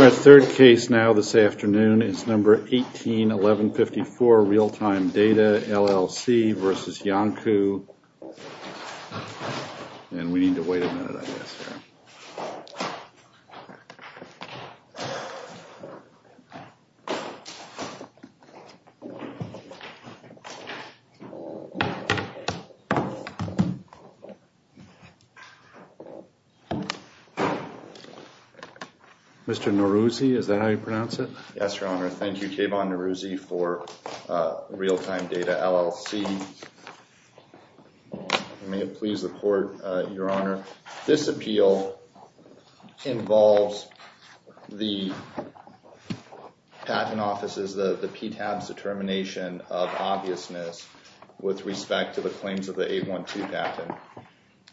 Our third case now this afternoon is number 18-1154, Realtime Data, LLC v. Iancu, and we need to wait a minute, I guess. Mr. Neruzzi, is that how you pronounce it? Yes, Your Honor. Thank you, Kayvon Neruzzi, for Realtime Data, LLC. May it please the Court, Your Honor. This appeal involves the patent offices, the PTAB's determination of obviousness with respect to the claims of the 812 patent,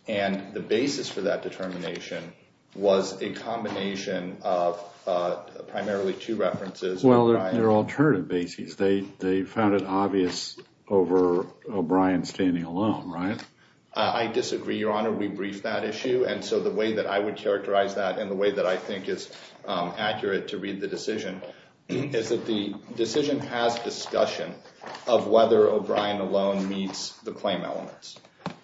and the basis for that determination was a combination of primarily two references. Well, they're alternative bases. They found it obvious over O'Brien standing alone, right? I disagree, Your Honor. We briefed that issue, and so the way that I would characterize that and the way that I think is accurate to read the decision is that the decision has discussion of whether O'Brien alone meets the claim elements,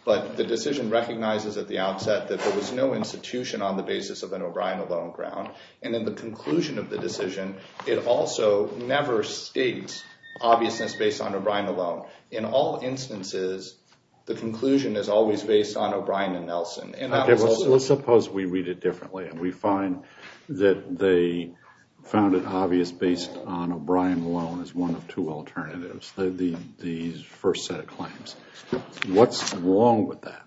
but the decision recognizes at the outset that there was no institution on the basis of an O'Brien alone ground, and in the conclusion of the decision, it also never states obviousness based on O'Brien alone. In all instances, the conclusion is always based on O'Brien and Nelson. Okay, let's suppose we read it differently, and we find that they found it obvious based on O'Brien alone as one of two alternatives, the first set of claims. What's wrong with that?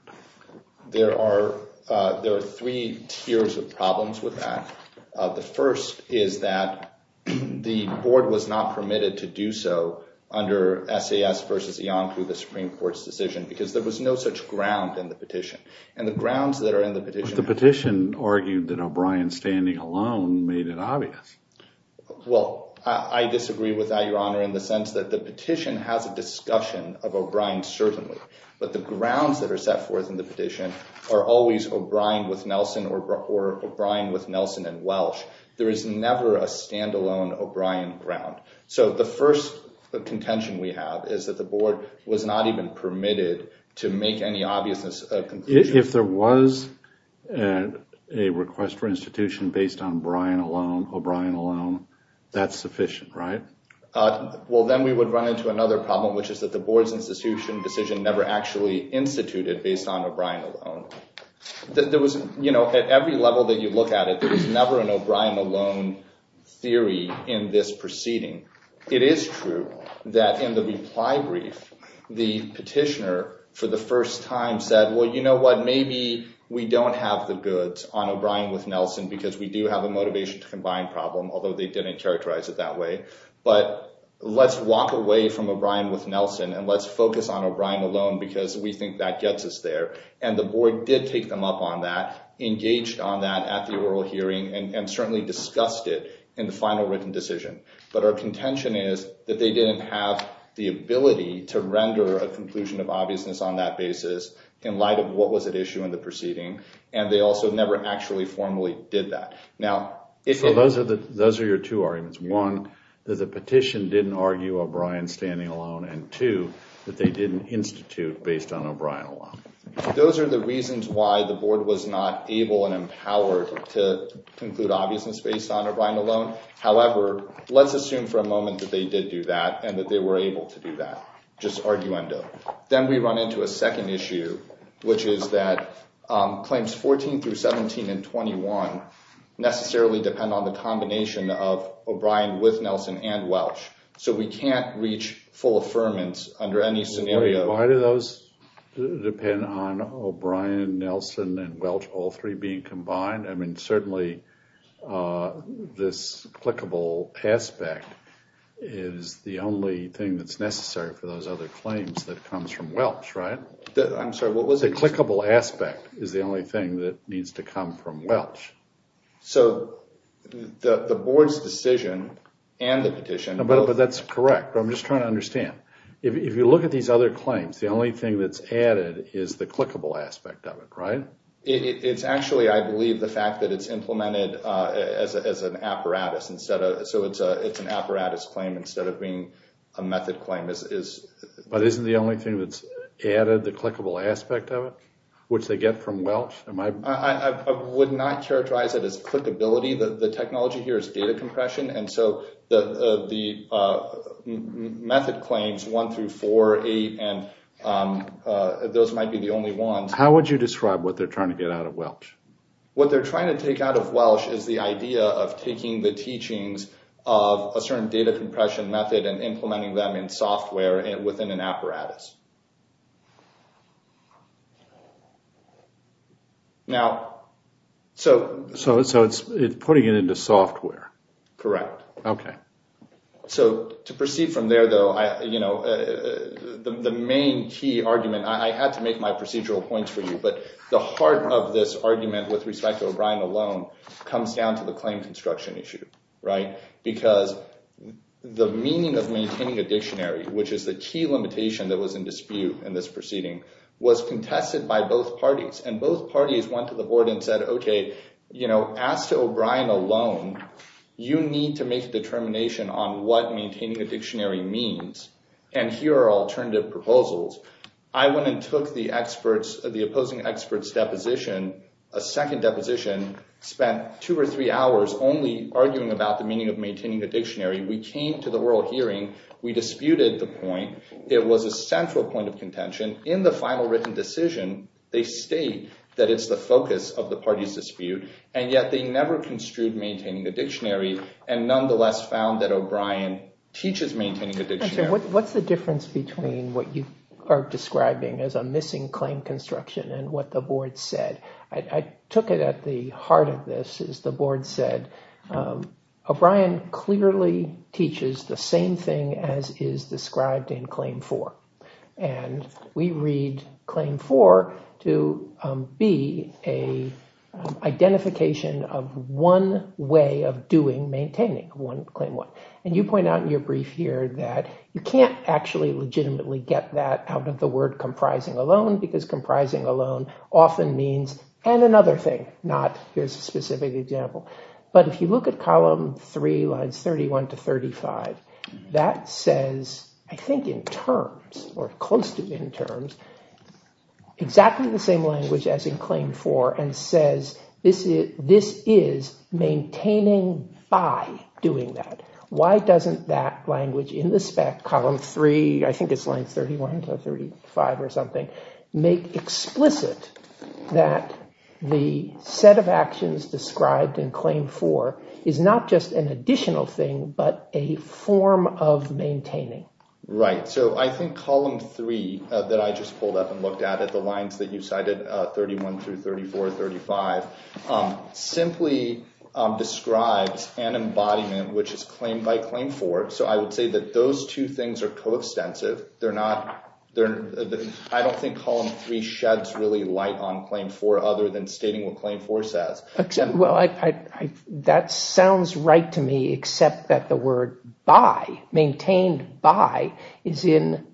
There are three tiers of problems with that. The first is that the board was not permitted to do so under SAS versus Iancu, the Supreme Court's decision, because there was no such ground in the petition, and the grounds that are in the petition— But the petition argued that O'Brien standing alone made it obvious. Well, I disagree with that, Your Honor, in the sense that the petition has a discussion of O'Brien certainly, but the grounds that are set forth in the petition are always O'Brien with Nelson or O'Brien with Nelson and Welsh. There is never a stand-alone O'Brien ground, so the first contention we have is that the board was not even permitted to make any obviousness conclusion. If there was a request for institution based on O'Brien alone, that's sufficient, right? Well, then we would run into another problem, which is that the board's institution decision never actually instituted based on O'Brien alone. At every level that you look at it, there was never an O'Brien alone theory in this proceeding. It is true that in the reply brief, the petitioner for the first time said, well, you know what? Maybe we don't have the goods on O'Brien with Nelson because we do have a motivation to combine problem, although they didn't characterize it that way. But let's walk away from O'Brien with Nelson and let's focus on O'Brien alone because we think that gets us there. And the board did take them up on that, engaged on that at the oral hearing, and certainly discussed it in the final written decision. But our contention is that they didn't have the ability to render a conclusion of obviousness on that basis in light of what was at issue in the proceeding, and they also never actually formally did that. So those are your two arguments. One, that the petition didn't argue O'Brien standing alone, and two, that they didn't institute based on O'Brien alone. Those are the reasons why the board was not able and empowered to conclude obviousness based on O'Brien alone. However, let's assume for a moment that they did do that and that they were able to do that, just arguendo. Then we run into a second issue, which is that claims 14 through 17 and 21 necessarily depend on the combination of O'Brien with Nelson and Welch. So we can't reach full affirmance under any scenario. Why do those depend on O'Brien, Nelson, and Welch all three being combined? I mean, certainly this clickable aspect is the only thing that's necessary for those other claims that comes from Welch, right? I'm sorry, what was it? The clickable aspect is the only thing that needs to come from Welch. So the board's decision and the petition... The only thing that's added is the clickable aspect of it, right? It's actually, I believe, the fact that it's implemented as an apparatus, so it's an apparatus claim instead of being a method claim. But isn't the only thing that's added the clickable aspect of it, which they get from Welch? I would not characterize it as clickability. The technology here is data compression. And so the method claims 1 through 4, 8, and those might be the only ones. How would you describe what they're trying to get out of Welch? What they're trying to take out of Welch is the idea of taking the teachings of a certain data compression method and implementing them in software within an apparatus. Now, so... So it's putting it into software. Correct. Okay. So to proceed from there, though, the main key argument, I had to make my procedural points for you, but the heart of this argument with respect to O'Brien alone comes down to the claim construction issue, right? Because the meaning of maintaining a dictionary, which is the key limitation that was in dispute in this proceeding, was contested by both parties. And both parties went to the board and said, okay, you know, as to O'Brien alone, you need to make a determination on what maintaining a dictionary means, and here are alternative proposals. I went and took the opposing experts' deposition, a second deposition, spent two or three hours only arguing about the meaning of maintaining a dictionary. We came to the oral hearing. We disputed the point. It was a central point of contention. In the final written decision, they state that it's the focus of the party's dispute, and yet they never construed maintaining a dictionary, and nonetheless found that O'Brien teaches maintaining a dictionary. What's the difference between what you are describing as a missing claim construction and what the board said? I took it at the heart of this. As the board said, O'Brien clearly teaches the same thing as is described in Claim 4. And we read Claim 4 to be an identification of one way of doing maintaining Claim 1. And you point out in your brief here that you can't actually legitimately get that out of the word comprising alone, because comprising alone often means and another thing, not here's a specific example. But if you look at Column 3, Lines 31 to 35, that says, I think in terms, or close to in terms, exactly the same language as in Claim 4, and says this is maintaining by doing that. Why doesn't that language in the spec, Column 3, I think it's Lines 31 to 35 or something, make explicit that the set of actions described in Claim 4 is not just an additional thing, but a form of maintaining? Right, so I think Column 3 that I just pulled up and looked at, the lines that you cited, 31 through 34, 35, simply describes an embodiment which is Claim by Claim 4. So I would say that those two things are coextensive. I don't think Column 3 sheds really light on Claim 4 other than stating what Claim 4 says. Well, that sounds right to me, except that the word by, maintained by, is in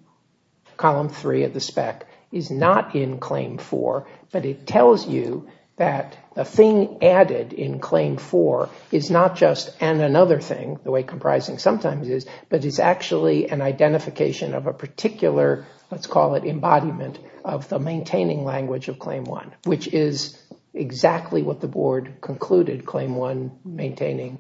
Column 3 of the spec, is not in Claim 4, but it tells you that the thing added in Claim 4 is not just an another thing, the way comprising sometimes is, but is actually an identification of a particular, let's call it embodiment of the maintaining language of Claim 1, which is exactly what the board concluded Claim 1 maintaining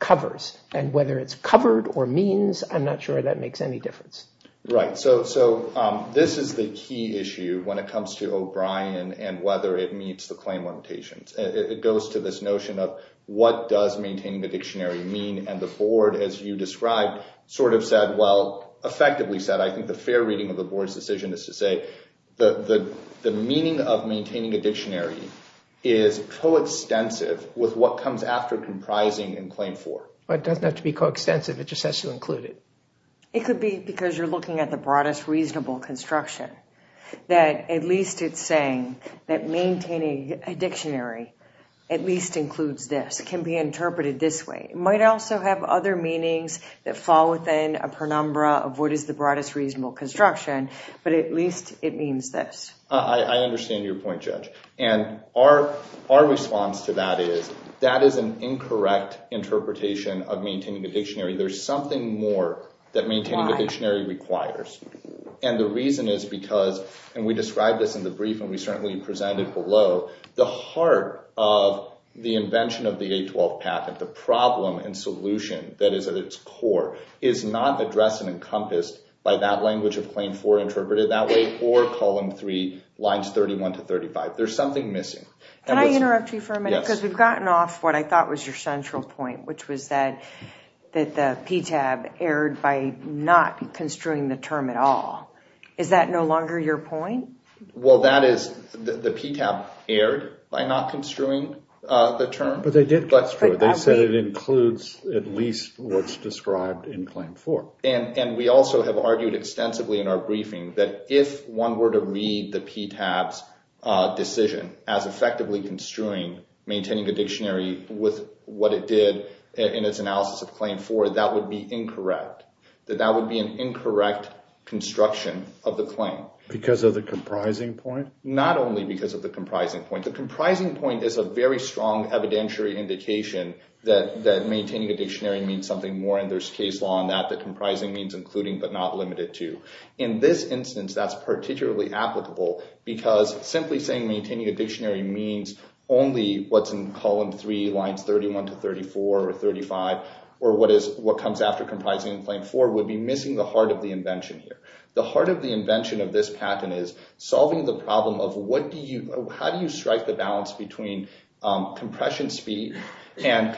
covers. And whether it's covered or means, I'm not sure that makes any difference. Right, so this is the key issue when it comes to O'Brien and whether it meets the Claim 1 notations. It goes to this notion of what does maintaining the dictionary mean? And the board, as you described, sort of said, well, effectively said, I think the fair reading of the board's decision is to say the meaning of maintaining a dictionary is coextensive with what comes after comprising in Claim 4. But it doesn't have to be coextensive, it just has to include it. It could be because you're looking at the broadest reasonable construction, that at least it's saying that maintaining a dictionary at least includes this, it can be interpreted this way. It might also have other meanings that fall within a penumbra of what is the broadest reasonable construction, but at least it means this. I understand your point, Judge. And our response to that is, that is an incorrect interpretation of maintaining a dictionary. There's something more that maintaining a dictionary requires. And the reason is because, and we described this in the brief and we certainly presented below, the heart of the invention of the 812 Packet, the problem and solution that is at its core, is not addressed and encompassed by that language of Claim 4 interpreted that way, or Column 3, Lines 31 to 35. There's something missing. Can I interrupt you for a minute? Yes. Because we've gotten off what I thought was your central point, which was that the PTAB erred by not construing the term at all. Is that no longer your point? Well, that is, the PTAB erred by not construing the term. But they did construe it. They said it includes at least what's described in Claim 4. And we also have argued extensively in our briefing that if one were to read the PTAB's decision as effectively construing maintaining a dictionary with what it did in its analysis of Claim 4, that would be incorrect. That that would be an incorrect construction of the claim. Because of the comprising point? Not only because of the comprising point. The comprising point is a very strong evidentiary indication that maintaining a dictionary means something more, and there's case law on that, that comprising means including but not limited to. In this instance, that's particularly applicable because simply saying maintaining a dictionary means only what's in Column 3, Lines 31 to 34 or 35, or what comes after comprising in Claim 4, would be missing the heart of the invention here. The heart of the invention of this patent is solving the problem of how do you strike the balance between compression speed and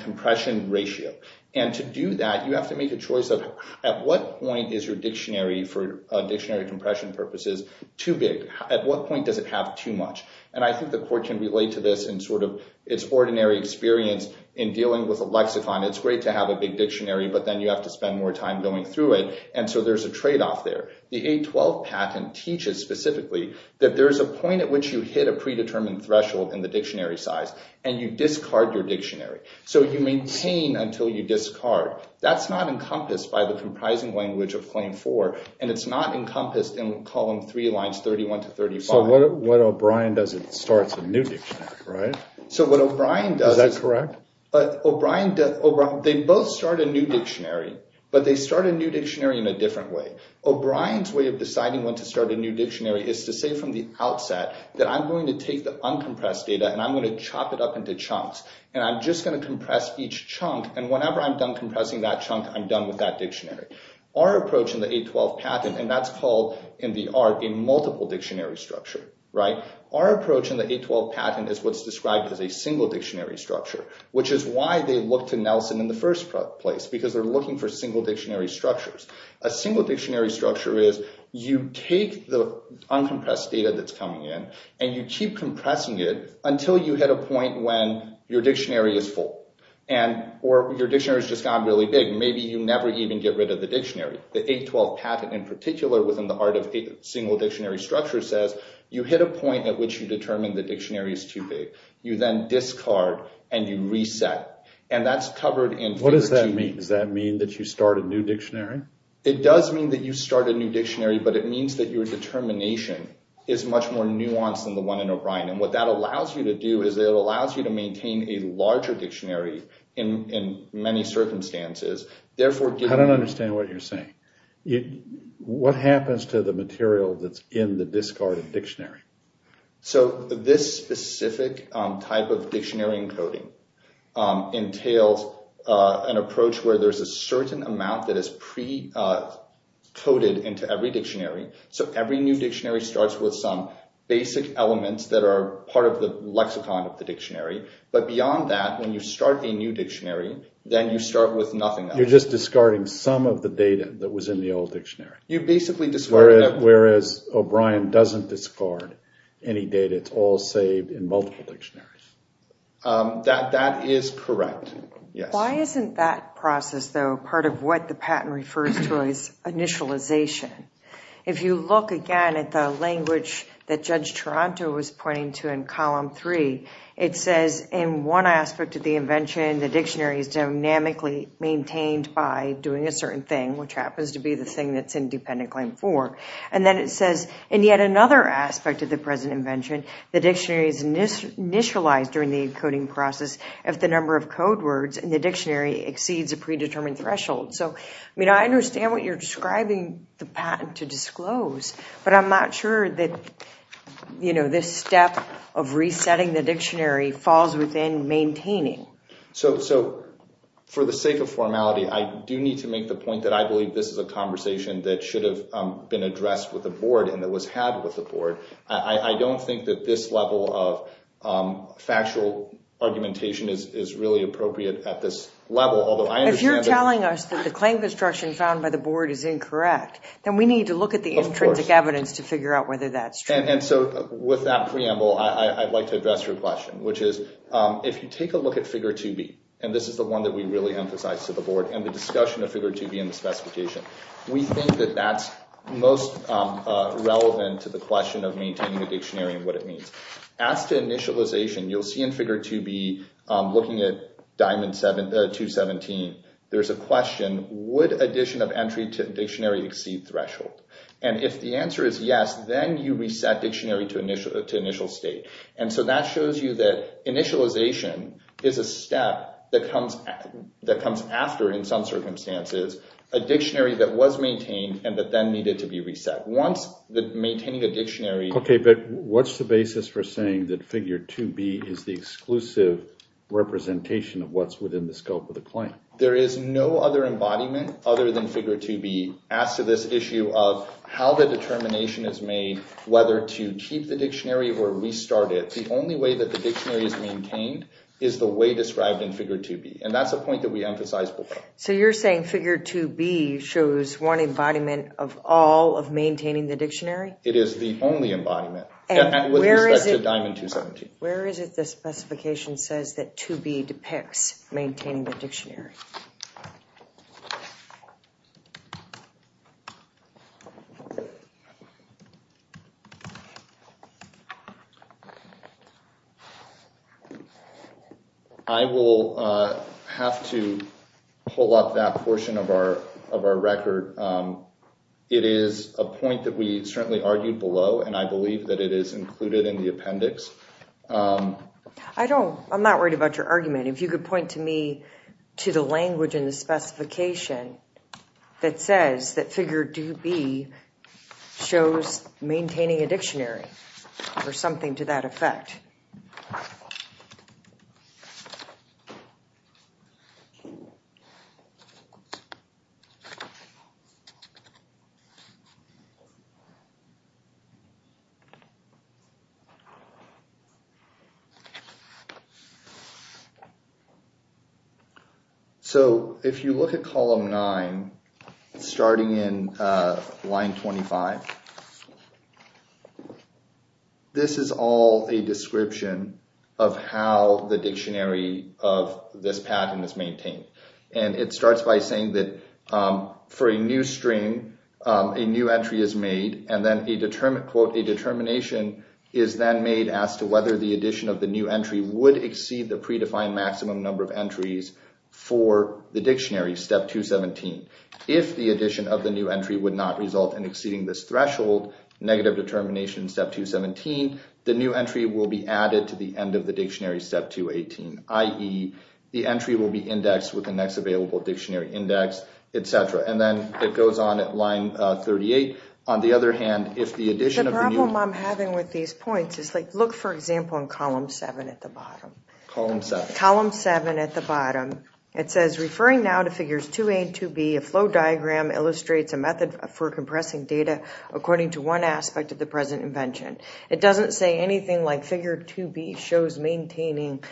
compression ratio? And to do that, you have to make a choice of at what point is your dictionary, for dictionary compression purposes, too big? At what point does it have too much? And I think the Court can relate to this in sort of its ordinary experience in dealing with a lexicon. It's great to have a big dictionary, but then you have to spend more time going through it. And so there's a trade-off there. The 812 patent teaches specifically that there's a point at which you hit a predetermined threshold in the dictionary size and you discard your dictionary. So you maintain until you discard. That's not encompassed by the comprising language of Claim 4, and it's not encompassed in Column 3, Lines 31 to 35. So what O'Brien does is it starts a new dictionary, right? Is that correct? They both start a new dictionary, but they start a new dictionary in a different way. O'Brien's way of deciding when to start a new dictionary is to say from the outset that I'm going to take the uncompressed data and I'm going to chop it up into chunks and I'm just going to compress each chunk and whenever I'm done compressing that chunk, I'm done with that dictionary. Our approach in the 812 patent, and that's called in the art a multiple dictionary structure, right? Our approach in the 812 patent is what's described as a single dictionary structure, which is why they look to Nelson in the first place because they're looking for single dictionary structures. A single dictionary structure is you take the uncompressed data that's coming in and you keep compressing it until you hit a point when your dictionary is full or your dictionary has just gotten really big. Maybe you never even get rid of the dictionary. The 812 patent, in particular, within the art of a single dictionary structure, says you hit a point at which you determine the dictionary is too big. You then discard and you reset, and that's covered in— Does that mean that you start a new dictionary? It does mean that you start a new dictionary, but it means that your determination is much more nuanced than the one in O'Brien, and what that allows you to do is it allows you to maintain a larger dictionary in many circumstances, therefore— I don't understand what you're saying. What happens to the material that's in the discarded dictionary? So, this specific type of dictionary encoding entails an approach where there's a certain amount that is pre-coded into every dictionary, so every new dictionary starts with some basic elements that are part of the lexicon of the dictionary, but beyond that, when you start a new dictionary, then you start with nothing else. You're just discarding some of the data that was in the old dictionary. You basically discarded— Whereas O'Brien doesn't discard any data. It's all saved in multiple dictionaries. That is correct, yes. Why isn't that process, though, part of what the patent refers to as initialization? If you look again at the language that Judge Toronto was pointing to in Column 3, it says, in one aspect of the invention, the dictionary is dynamically maintained by doing a certain thing, which happens to be the thing that's in Dependent Claim 4, and then it says, in yet another aspect of the present invention, the dictionary is initialized during the encoding process if the number of code words in the dictionary exceeds a predetermined threshold. So, I mean, I understand what you're describing the patent to disclose, but I'm not sure that, you know, this step of resetting the dictionary falls within maintaining. So, for the sake of formality, I do need to make the point that I believe this is a conversation that should have been addressed with the board and that was had with the board. I don't think that this level of factual argumentation is really appropriate at this level, although I understand that... If you're telling us that the claim construction found by the board is incorrect, then we need to look at the intrinsic evidence to figure out whether that's true. And so, with that preamble, I'd like to address your question, which is, if you take a look at Figure 2B, and this is the one that we really emphasize to the board, and the discussion of Figure 2B in the specification, we think that that's most relevant to the question of maintaining a dictionary and what it means. As to initialization, you'll see in Figure 2B, looking at Diamond 217, there's a question, would addition of entry to dictionary exceed threshold? And if the answer is yes, then you reset dictionary to initial state. And so, that shows you that initialization is a step that comes after, in some circumstances, a dictionary that was maintained and that then needed to be reset. Once maintaining a dictionary... Okay, but what's the basis for saying that Figure 2B is the exclusive representation of what's within the scope of the claim? There is no other embodiment other than Figure 2B as to this issue of how the determination is made whether to keep the dictionary or restart it. The only way that the dictionary is maintained is the way described in Figure 2B. And that's a point that we emphasize. So you're saying Figure 2B shows one embodiment of all of maintaining the dictionary? It is the only embodiment. With respect to Diamond 217. Where is it the specification says that 2B depicts maintaining the dictionary? I will have to pull up that portion of our record. It is a point that we certainly argued below and I believe that it is included in the appendix. I'm not worried about your argument. If you could point to me to the language in the specification that says that Figure 2B shows maintaining a dictionary or something to that effect. So if you look at column 9 starting in line 25 this is all a description of how the dictionary of this pattern is maintained. And it starts by saying that for a new string a new entry is made and then a determination is then made as to whether the addition of the new entry would exceed the predefined maximum number of entries for the dictionary, step 217. If the addition of the new entry would not result in exceeding this threshold, negative determination step 217, the new entry will be added to the end of the dictionary step 218, i.e. the entry will be indexed with the next available dictionary index, etc. And then it goes on at line 38. On the other hand, if the addition of the new... The problem I'm having with these points is like, look for example in column 7 at the bottom. Column 7. Column 7 at the bottom it says, referring now to Figures 2A and 2B, a flow diagram illustrates a method for compressing data according to one aspect of the present invention. It doesn't say anything like Figure 2B shows maintaining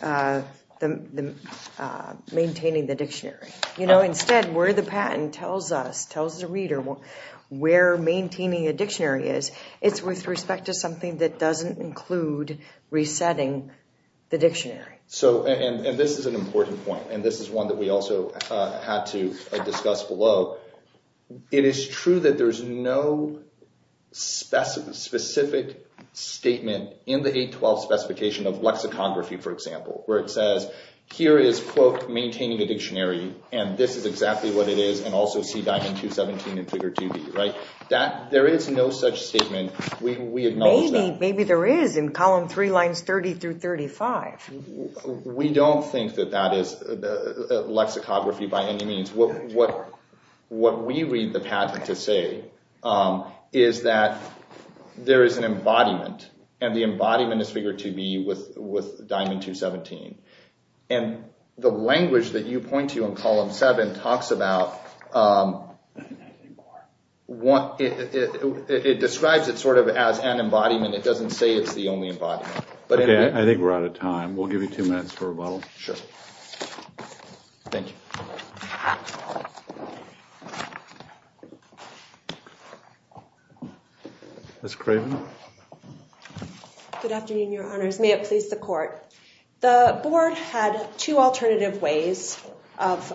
the dictionary. You know, instead where the patent tells us, tells the reader where maintaining a dictionary is it's with respect to something that doesn't include resetting the dictionary. And this is an important point. And this is one that we also had to discuss below. It is true that there's no specific statement in the 812 specification of lexicography for example where it says, here is quote, maintaining a dictionary and this is exactly what it is and also see Diamond 217 in Figure 2B. There is no such statement. We acknowledge that. Maybe there is in column 3 lines 30-35. We don't think that that is lexicography by any means. What we read the patent to say is that there is an embodiment and the embodiment is Figure 2B with Diamond 217. And the language that you point to in column 7 talks about it describes it sort of as an embodiment. It doesn't say it's the only embodiment. I think we're out of time. We'll give you two minutes for rebuttal. Sure. Thank you. Ms. Craven. Good afternoon Your Honors. May it please the Court. The Board had two alternative ways of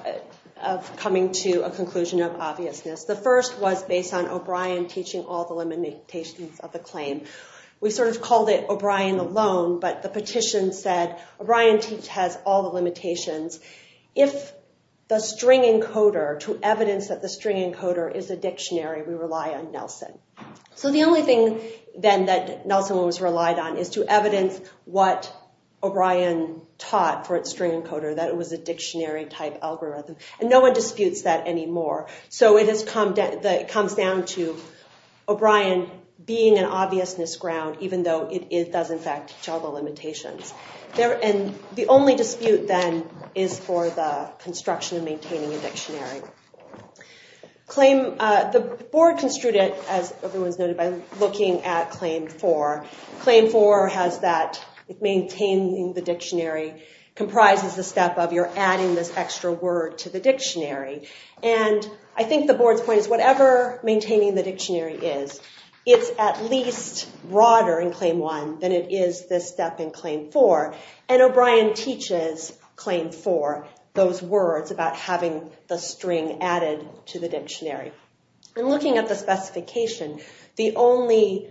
coming to a conclusion of obviousness. The first was based on O'Brien teaching all the limitations of the claim. We sort of called it O'Brien alone but the petition said O'Brien has all the limitations. If the string encoder to evidence that the string is a dictionary, we rely on Nelson. So the only thing then that Nelson was relied on is to evidence what O'Brien taught for its string encoder that it was a dictionary type algorithm. And no one disputes that anymore. So it comes down to O'Brien being an obviousness ground even though it does in fact teach all the limitations. And the only dispute then is for the construction of maintaining a dictionary. The Board construed it, as everyone has noted, by looking at Claim 4. Claim 4 has that maintaining the dictionary comprises the step of you're adding this extra word to the dictionary. And I think the Board's point is whatever maintaining the dictionary is, it's at least broader in Claim 1 than it is this step in Claim 4. And O'Brien teaches Claim 4 those words about having the string added to the dictionary. And looking at the specification, the only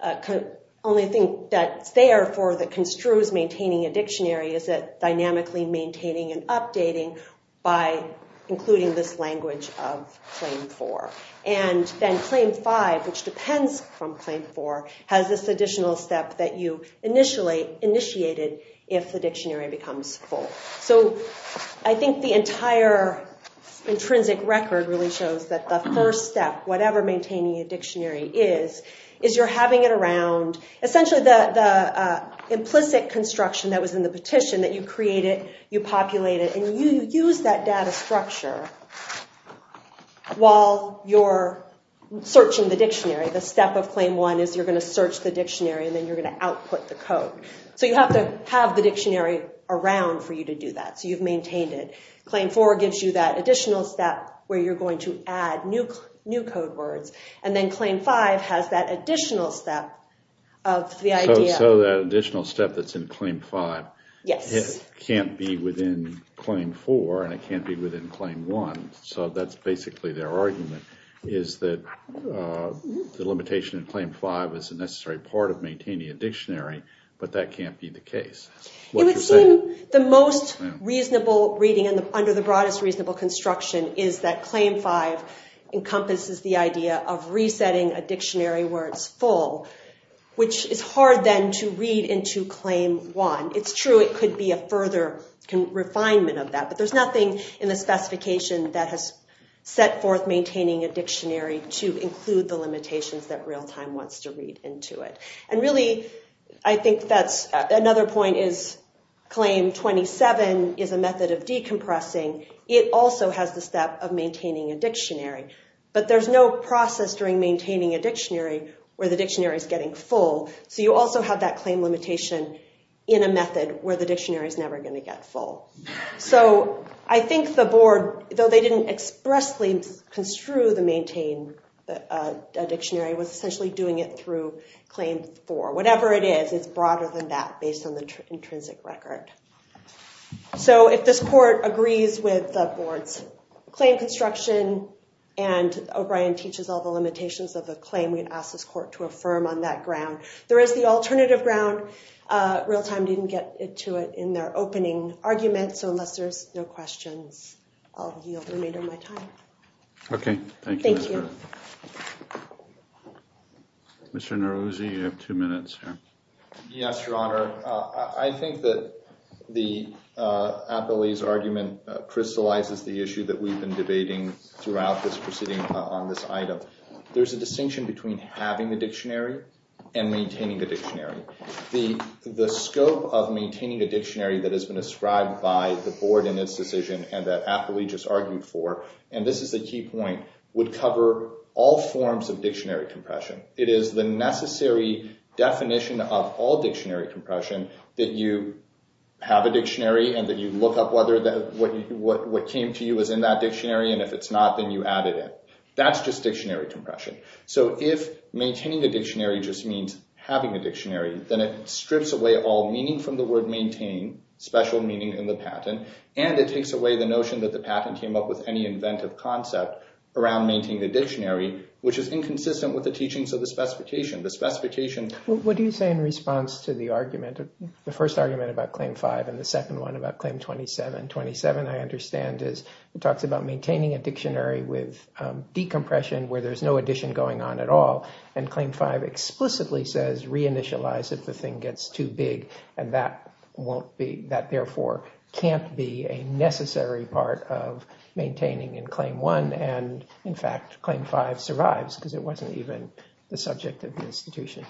thing that's there for that construes maintaining a dictionary is that dynamically maintaining and updating by including this language of Claim 4. And then Claim 5 which depends from Claim 4 has this additional step that you initially initiated if the dictionary becomes full. So I think the entire intrinsic record really shows that the first step whatever maintaining a dictionary is is you're having it around essentially the implicit construction that was in the petition that you created, you populated and you use that data structure while you're searching the dictionary. The step of Claim 1 is you're going to search the dictionary and then you're going to output the code. So you have to have the dictionary around for you to do that. So you've maintained it. Claim 4 gives you that additional step where you're going to add new code words and then Claim 5 has that additional step of the idea. So that additional step that's in Claim 5 can't be within Claim 4 and it can't be within Claim 1. So that's basically their argument is that the limitation in Claim 5 is a necessary part of maintaining a dictionary but that can't be the case. It would seem the most reasonable reading under the broadest reasonable construction is that Claim 5 encompasses the idea of resetting a dictionary where it's full, which is hard then to read into Claim 1. It's true it could be a further refinement of that but there's nothing in the specification that has set forth maintaining a dictionary to include the limitations that Realtime wants to read into it. And really I think that's another point is Claim 27 is a method of decompressing. It also has the step of maintaining a dictionary but there's no process during maintaining a dictionary where the dictionary is getting full. So you also have that claim limitation in a method where the dictionary is never going to get full. So I think the board, though they didn't expressly construe the maintain dictionary was essentially doing it through Claim 4. Whatever it is, it's broader than that based on the intrinsic record. So if this court agrees with the board's claim construction and O'Brien teaches all the limitations of the claim, we'd ask this court to affirm on that ground. There is the alternative ground. Realtime didn't get into it in their opening argument, so unless there's no questions I'll yield the remainder of my time. Okay, thank you. Mr. Neruzzi, you have two minutes here. Yes, Your Honor. I think that the appellee's argument crystallizes the issue that we've been debating throughout this proceeding on this item. There's a distinction between having the dictionary and maintaining the dictionary. The scope of maintaining a dictionary that has been ascribed by the board in its decision and that appellee just argued for and this is the key point, would cover all forms of dictionary compression. It is the necessary definition of all dictionary compression that you have a dictionary and that you look up whether what came to you is in that dictionary and if it's not then you added it. That's just dictionary compression. So if maintaining a dictionary just means having a dictionary then it strips away all meaning from the word maintain, special meaning in the patent, and it takes away the notion that the patent came up with any inventive concept around maintaining a dictionary which is inconsistent with the teachings of the specification. What do you say in response to the argument the first argument about Claim 5 and the second one about Claim 27? 27 I understand is maintaining a dictionary with decompression where there's no addition going on at all and Claim 5 explicitly says reinitialize if the thing gets too big and that won't be, that therefore can't be a necessary part of maintaining in Claim 1 and in fact Claim 5 survives because it wasn't even the subject of the institution.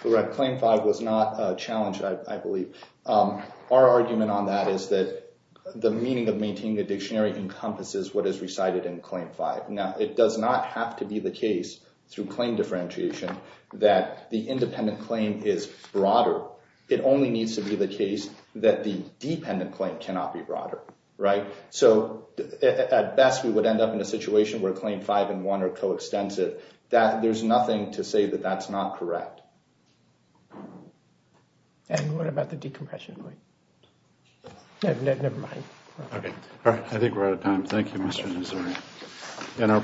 Claim 5 was not a challenge I believe. Our argument on that is that the meaning of maintaining a dictionary encompasses what is recited in Claim 5. Now it does not have to be the case through claim differentiation that the independent claim is broader it only needs to be the case that the dependent claim cannot be broader. At best we would end up in a situation where Claim 5 and 1 are co-extensive there's nothing to say that that's not correct. And what about the decompression? Never mind. I think we're out of time. Thank you Mr. Nazari.